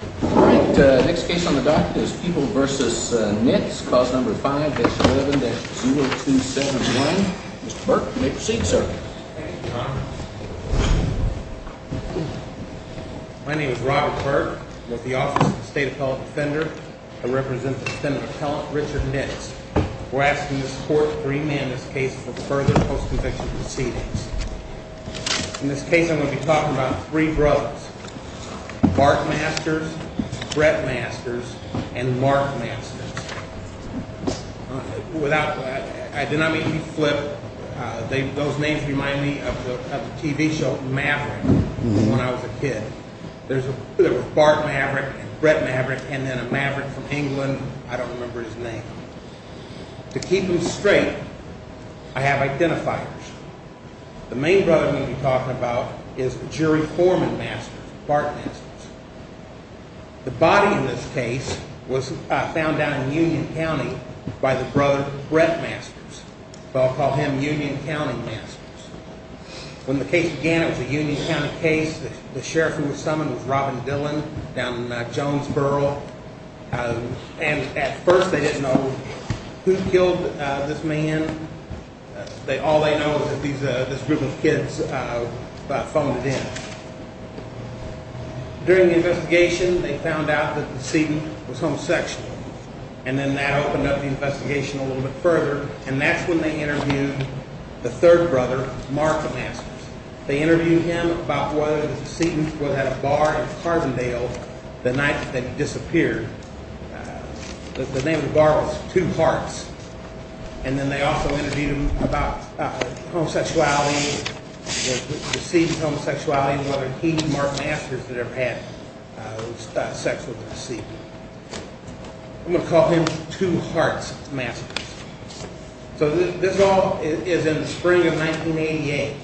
All right, next case on the docket is Peeble v. Nitz, clause number 5-11-0271. Mr. Burke, you may proceed, sir. My name is Robert Burke. I'm with the Office of the State Appellate Defender. I represent the defendant appellant, Richard Nitz. We're asking this court to remand this case for further post-conviction proceedings. In this case, I'm going to be talking about three brothers. Bart Masters, Brett Masters, and Mark Masters. I did not mean to be flippant. Those names remind me of the TV show, Maverick, when I was a kid. There was Bart Maverick, Brett Maverick, and then a Maverick from England. I don't remember his name. To keep them straight, I have identifiers. The main brother I'm going to be talking about is the jury foreman Masters, Bart Masters. The body in this case was found down in Union County by the brother, Brett Masters. They'll call him Union County Masters. When the case began, it was a Union County case. The sheriff who was summoned was Robin Dillon, down in Jonesboro. At first, they didn't know who killed this man. All they know is that this group of kids phoned it in. During the investigation, they found out that the decedent was homosexual. That opened up the investigation a little bit further. That's when they interviewed the third brother, Mark Masters. They interviewed him about whether the decedent had a bar in Carbondale the night that he disappeared. The name of the bar was Two Hearts. They also interviewed him about the decedent's homosexuality and whether he and Mark Masters had sex with the decedent. I'm going to call him Two Hearts Masters. So this all is in the spring of 1988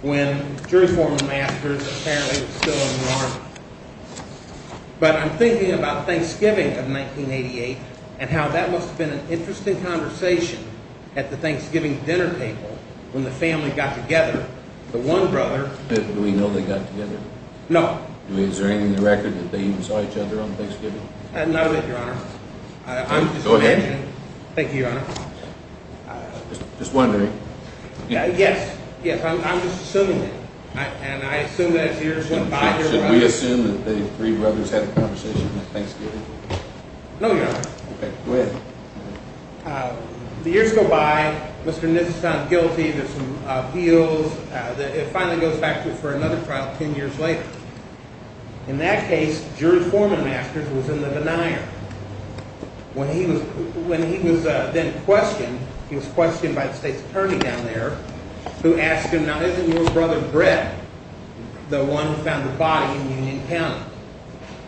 when jury foreman Masters apparently was still in New Orleans. But I'm thinking about Thanksgiving of 1988 and how that must have been an interesting conversation at the Thanksgiving dinner table when the family got together. Do we know they got together? No. Is there anything in the record that they even saw each other on Thanksgiving? Not a bit, Your Honor. Go ahead. Thank you, Your Honor. Just wondering. Yes, I'm just assuming it. And I assume that as years went by... Should we assume that the three brothers had a conversation on Thanksgiving? No, Your Honor. Go ahead. The years go by, Mr. Nissen is found guilty, there's some appeals. It finally goes back for another trial ten years later. In that case, jury foreman Masters was in the denier. When he was then questioned, he was questioned by the state's attorney down there who asked him, now isn't your brother Brett the one who found the body in Union County?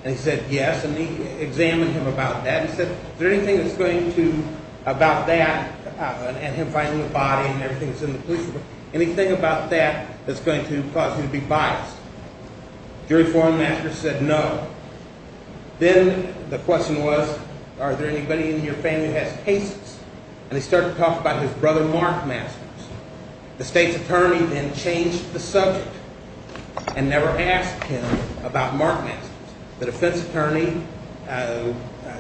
And he said, yes. And they examined him about that and said, is there anything that's going to... about that and him finding the body and everything that's in the police report, anything about that that's going to cause you to be biased? Jury foreman Masters said no. Then the question was, are there anybody in your family who has cases? And they started to talk about his brother, Mark Masters. The state's attorney then changed the subject and never asked him about Mark Masters. The defense attorney,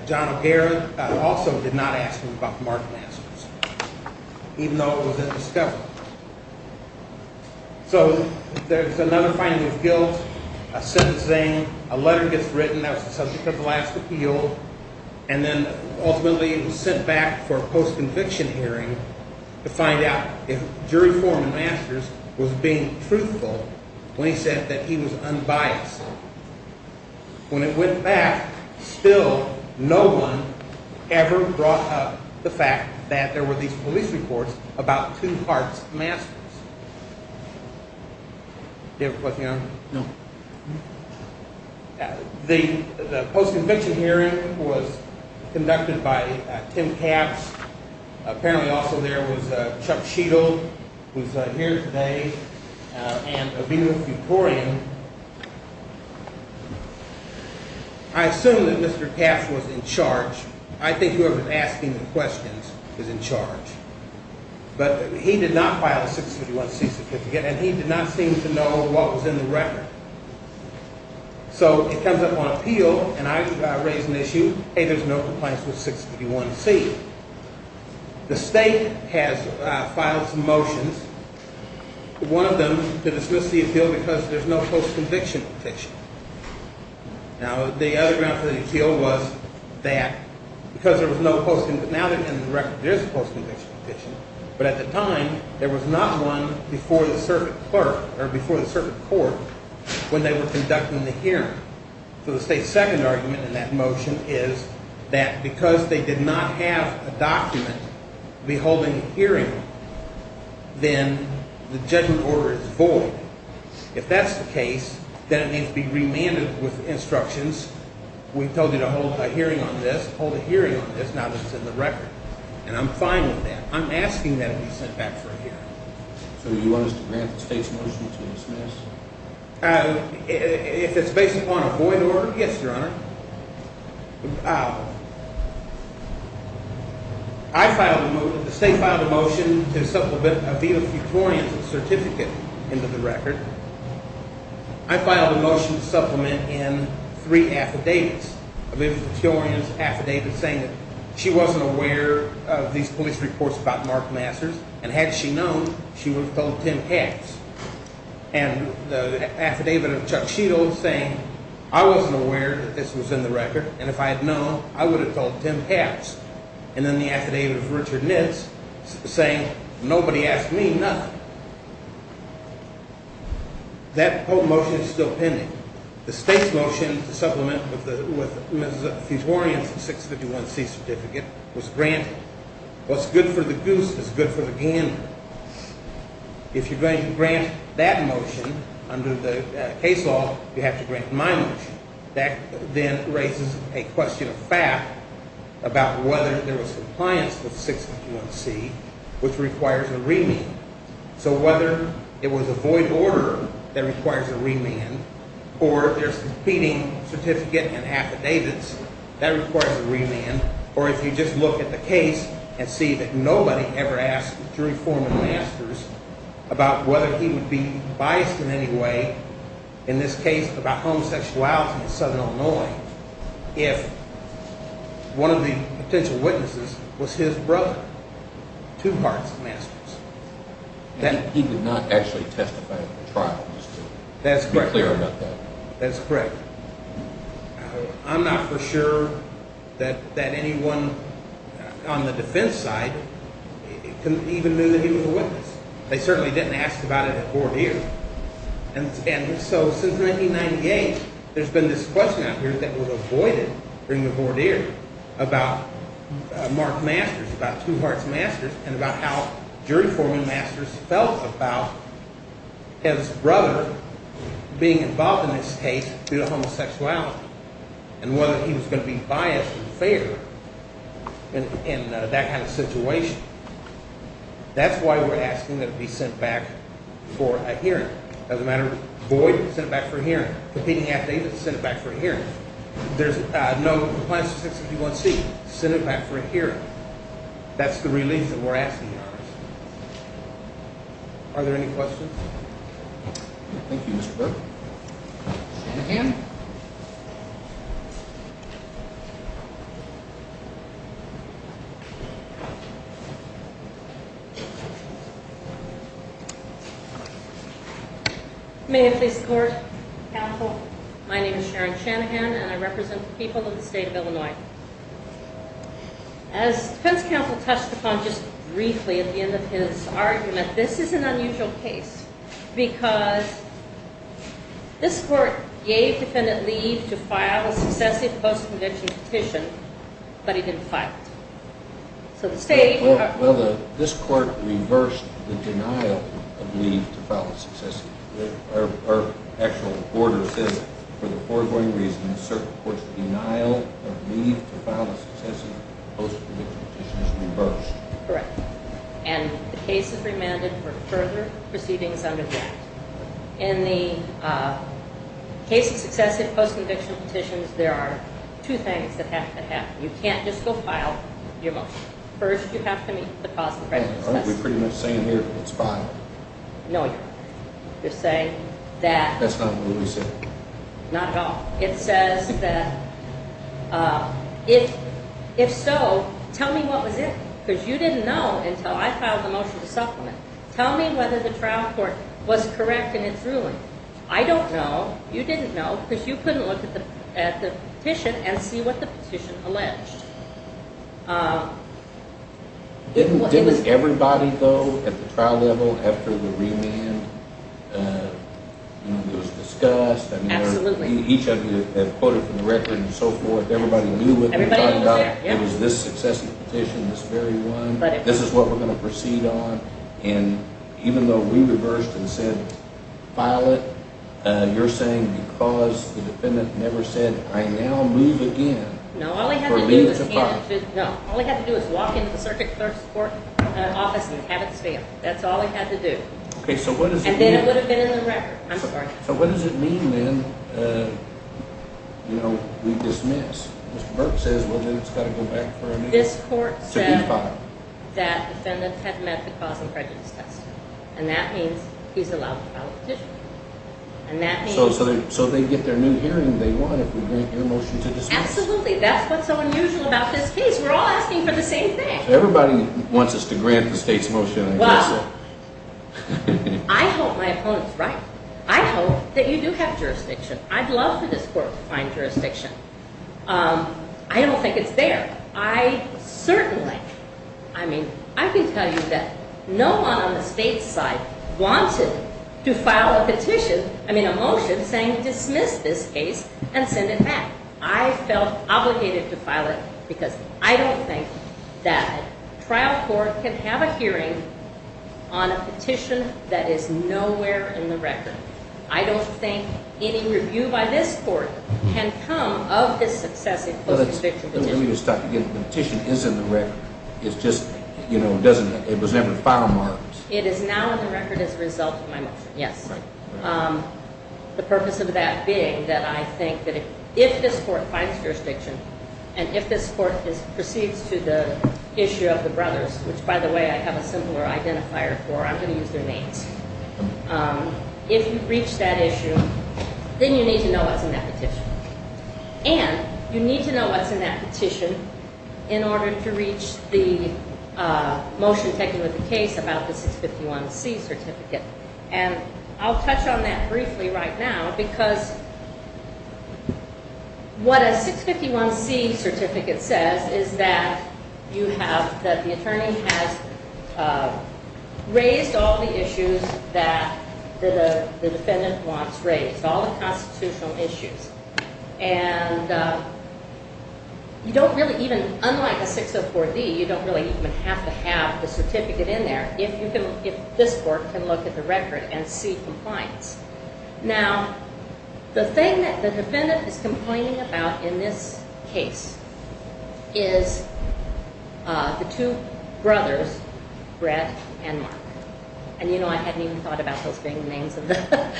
John O'Hare, also did not ask him about Mark Masters, even though it was a discovery. So there's another finding of guilt, a sentencing, a letter gets written that was the subject of the last appeal, and then ultimately it was sent back for a post-conviction hearing to find out if jury foreman Masters was being truthful when he said that he was unbiased. When it went back, still no one ever brought up the fact that there were these police reports about two parts of Masters. Do you have a question? No. The post-conviction hearing was conducted by Tim Capps. Apparently also there was Chuck Sheedle, who's here today, and Aviva Futorian. I assume that Mr. Capps was in charge. I think whoever's asking the questions is in charge. But he did not file a 651C certificate, and he did not seem to know what was in the record. So it comes up on appeal, and I raise an issue, hey, there's no complaints with 651C. The state has filed some motions, one of them to dismiss the appeal because there's no post-conviction petition. Now the other grounds for the appeal was that because there was no post-conviction, now there is a post-conviction petition, but at the time there was not one before the circuit court when they were conducting the hearing. So the state's second argument in that motion is that because they did not have a document beholding the hearing, then the judgment order is void. If that's the case, then it needs to be remanded with instructions. We told you to hold a hearing on this. Hold a hearing on this now that it's in the record. And I'm fine with that. I'm asking that it be sent back for a hearing. So you want us to grant the state's motion to dismiss? If it's based upon a void order, yes, Your Honor. The state filed a motion to supplement Aviva Futorian's certificate into the record. I filed a motion to supplement in three affidavits. Aviva Futorian's affidavit saying that she wasn't aware of these police reports about Mark Masters and had she known, she would have told Tim Papps. And the affidavit of Chuck Sheeto saying I wasn't aware that this was in the record and if I had known, I would have told Tim Papps. And then the affidavit of Richard Nitz saying nobody asked me nothing. That whole motion is still pending. The state's motion to supplement with Ms. Futorian's 651C certificate was granted. What's good for the goose is good for the gander. If you're going to grant that motion under the case law, you have to grant my motion. That then raises a question of fact about whether there was compliance with 651C which requires a remand. So whether it was a void order that requires a remand or there's a competing certificate and affidavits that requires a remand or if you just look at the case and see that nobody ever asked the three former Masters about whether he would be biased in any way in this case about homosexuality in Southern Illinois if one of the potential witnesses was his brother. Two parts Masters. He did not actually testify at the trial. That's correct. That's correct. I'm not for sure that anyone on the defense side even knew that he was a witness. They certainly didn't ask about it at voir dire. And so since 1998, there's been this question out here that was avoided during the voir dire about Mark Masters, about two parts Masters and about how jury forming Masters felt about his brother being involved in this case due to homosexuality and whether he was going to be biased and fair in that kind of situation. That's why we're asking that it be sent back for a hearing. It doesn't matter if it's void, send it back for a hearing. Competing affidavits, send it back for a hearing. If there's no compliance with Section 51C, send it back for a hearing. That's the relief that we're asking for. Are there any questions? Thank you, Mr. Burke. Shanahan? May I please report? Counsel. My name is Sharon Shanahan and I represent the people of the state of Illinois. As defense counsel touched upon just briefly at the end of his argument, this is an unusual case because this court gave defendant Lee to file a successive post-conviction petition, but he didn't file it. So the state... Well, this court reversed the denial of Lee to file a successive... Our actual order says, for the foregoing reason, this court's denial of Lee to file a successive post-conviction petition is reversed. Correct. And the case is remanded for further proceedings under that. In the case of successive post-conviction petitions, there are two things that have to happen. You can't just go file your motion. First, you have to meet the cost of credit assessment. We're pretty much saying here it's fine. No, you're not. You're saying that... That's not what we said. Not at all. It says that if so, tell me what was it. Because you didn't know until I filed the motion to supplement. Tell me whether the trial court was correct in its ruling. I don't know. You didn't know because you couldn't look at the petition and see what the petition alleged. Didn't everybody, though, at the trial level, after the remand, it was discussed. Absolutely. Each of you have quoted from the record and so forth. Everybody knew what they were talking about. It was this successive petition, this very one. This is what we're going to proceed on. And even though we reversed and said file it, you're saying because the defendant never said, I now move again. No, all he had to do... All he had to do was walk into the circuit clerk's office and have it stamped. That's all he had to do. And then it would have been in the record. I'm sorry. So what does it mean then, you know, we dismiss? Mr. Burke says, well, then it's got to go back for a new... This court said that the defendant had met the cause and prejudice test. And that means he's allowed to file a petition. So they get their new hearing they want if we grant your motion to dismiss? That's what's so unusual about this case. We're all asking for the same thing. Everybody wants us to grant the state's motion. Well, I hope my opponent's right. I hope that you do have jurisdiction. I'd love for this court to find jurisdiction. I don't think it's there. I certainly, I mean, I can tell you that no one on the state's side wanted to file a petition, I mean a motion, saying dismiss this case and send it back. I felt obligated to file it because I don't think that a trial court can have a hearing on a petition that is nowhere in the record. I don't think any review by this court can come of this successive post-conviction petition. Let me just talk again. The petition is in the record. It's just, you know, it doesn't, it was never filed. It is now in the record as a result of my motion, yes. The purpose of that being that I think that if this court finds jurisdiction, and if this court proceeds to the issue of the brothers, which, by the way, I have a simpler identifier for, I'm going to use their names. If you reach that issue, then you need to know what's in that petition. And you need to know what's in that petition in order to reach the motion taking with the case about the 651C certificate. And I'll touch on that briefly right now, because what a 651C certificate says is that you have, that the attorney has raised all the issues that the defendant wants raised, all the constitutional issues. And you don't really even, unlike a 604D, you don't really even have to have the certificate in there if this court can look at the record and see compliance. Now, the thing that the defendant is complaining about in this case is the two brothers, Brett and Mark. And you know, I hadn't even thought about those being the names of the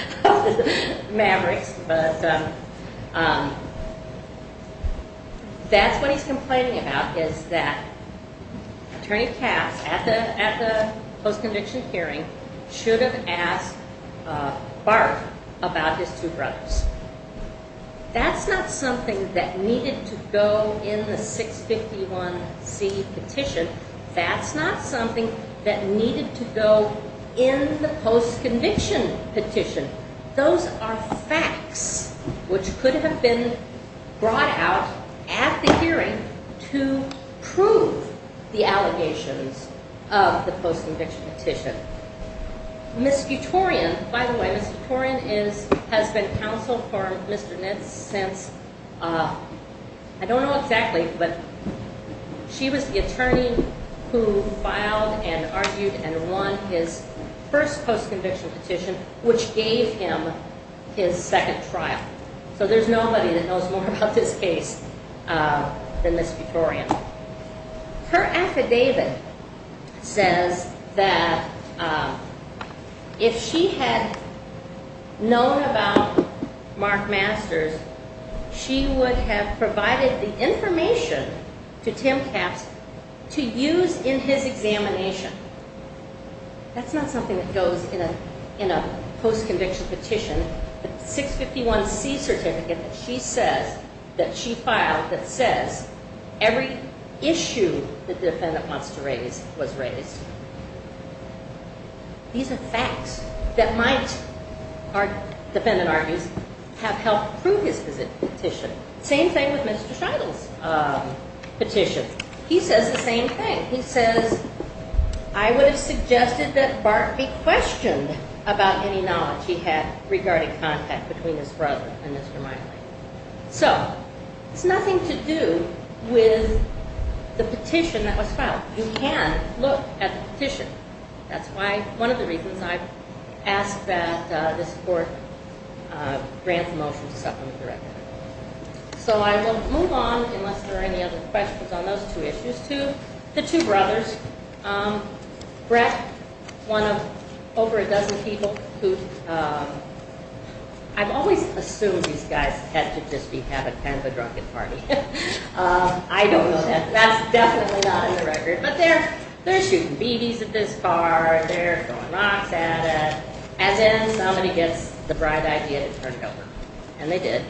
mavericks, but that's what he's complaining about, is that Attorney Cass, at the post-conviction hearing, should have asked Bart about his two brothers. That's not something that needed to go in the 651C petition. That's not something that needed to go in the post-conviction petition. Those are facts which could have been brought out at the hearing to prove the allegations of the post-conviction petition. Ms. Futorian, by the way, Ms. Futorian has been counsel for Mr. Nitz since, I don't know exactly, but she was the attorney who filed and argued and won his first post-conviction petition, which gave him his second trial. So there's nobody that knows more about this case than Ms. Futorian. Her affidavit says that if she had known about Mark Masters, she would have provided the information to Tim Capps to use in his examination. That's not something that goes in a post-conviction petition. The 651C certificate that she filed that says every issue that the defendant wants to raise was raised. These are facts that might, our defendant argues, have helped prove his petition. Same thing with Mr. Scheidel's petition. He says the same thing. He says, I would have suggested that Bart be questioned about any knowledge he had regarding contact between his brother and Mr. Meinle. So, it's nothing to do with the petition that was filed. You can look at the petition. That's why, one of the reasons I've asked that this court grant the motion to supplement the record. So I will move on, unless there are any other questions on those two issues, to the two brothers. Brett, one of over a dozen people who I've always assumed these guys had to just be having kind of a drunken party. I don't know that. That's definitely not in the record. But they're shooting BBs at this car. They're throwing rocks at it. As in, somebody gets the bright idea to turn it over. And they did.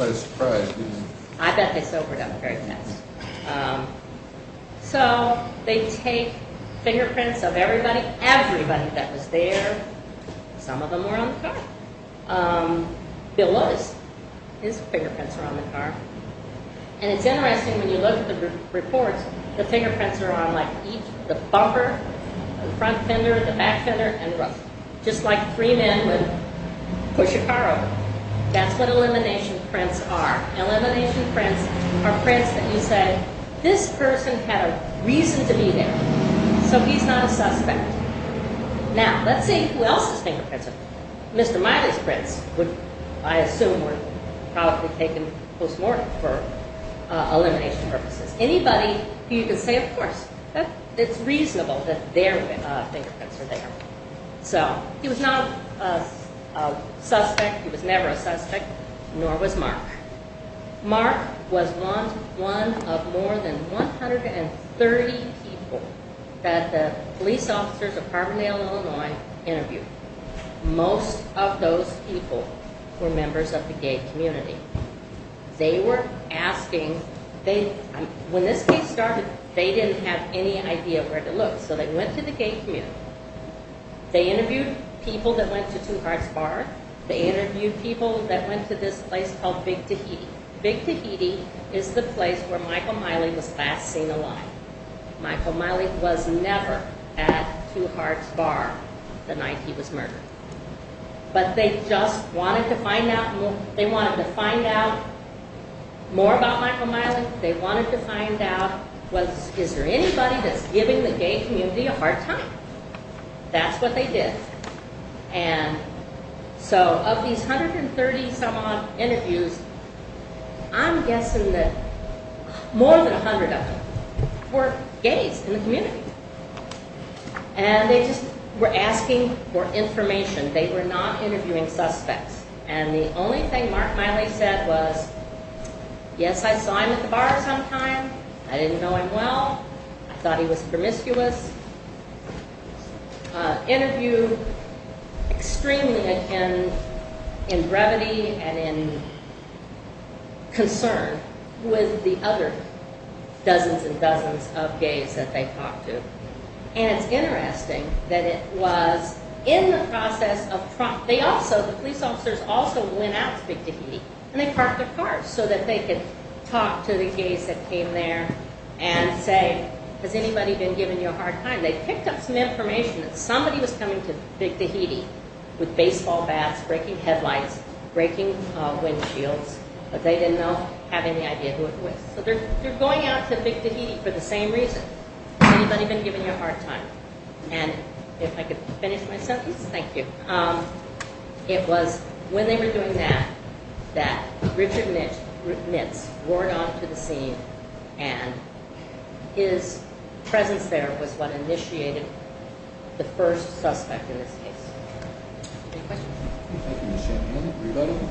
I bet they sobered up very fast. So, they take fingerprints of everybody, everybody that was there. Some of them were on the car. Bill Lotus, his fingerprints are on the car. And it's interesting, when you look at the reports, the fingerprints are on like each, the bumper, the front fender, the back fender, and the roof. Just like three men would push a car over. That's what elimination prints are. Elimination prints are prints that you say, this person had a reason to be there. So he's not a suspect. Now, let's see who else's fingerprints are there. Mr. Miley's prints, I assume, were probably taken post-mortem for elimination purposes. Anybody, you can say, of course, it's reasonable that their fingerprints are there. So, he was not a suspect. He was never a suspect. Nor was Mark. Mark was one of more than 130 people that the police officers of Carbondale, Illinois, interviewed. Most of those people were members of the gay community. They were asking, when this case started, they didn't have any idea where to look. So they went to the gay community. They interviewed people that went to Two Hearts Bar. They interviewed people that went to this place called Big Tahiti. Big Tahiti is the place where Michael Miley was last seen alive. Michael Miley was never at Two Hearts Bar the night he was murdered. But they just wanted to find out, they wanted to find out more about Michael Miley. They wanted to find out, is there anybody that's giving the gay community a hard time? That's what they did. And so, of these 130 some odd interviews, I'm guessing that more than 100 of them were gays in the community. And they just were asking for information. They were not interviewing suspects. And the only thing Mark Miley said was, yes, I saw him at the bar sometime. I didn't know him well. I thought he was promiscuous. Interviewed extremely in brevity and in concern with the other dozens and dozens of gays that they talked to. And it's interesting that it was in the process of, they also, the police officers also went out to Big Tahiti and they parked their cars so that they could talk to the gays that came there and say, has anybody been giving you a hard time? They picked up some information that somebody was coming to Big Tahiti with baseball bats, breaking headlights, breaking windshields, but they didn't know, have any idea who it was. So they're going out to Big Tahiti for the same reason. Has anybody been giving you a hard time? And if I could finish my sentence, thank you. It was when they were doing that that Richard Mitz wore it onto the scene and his presence there was what initiated the first suspect in this case. Any questions? Thank you, Ms. Shannon. Anybody?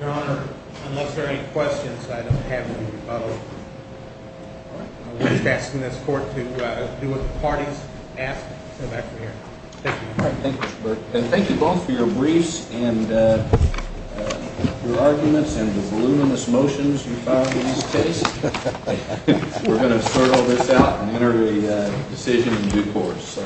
Your Honor, unless there are any questions, I don't have any. I'm just asking this court to do what the parties ask. Thank you. Thank you both for your briefs and your arguments and the voluminous motions you filed in this case. We're going to sort all this out and enter a decision in due course.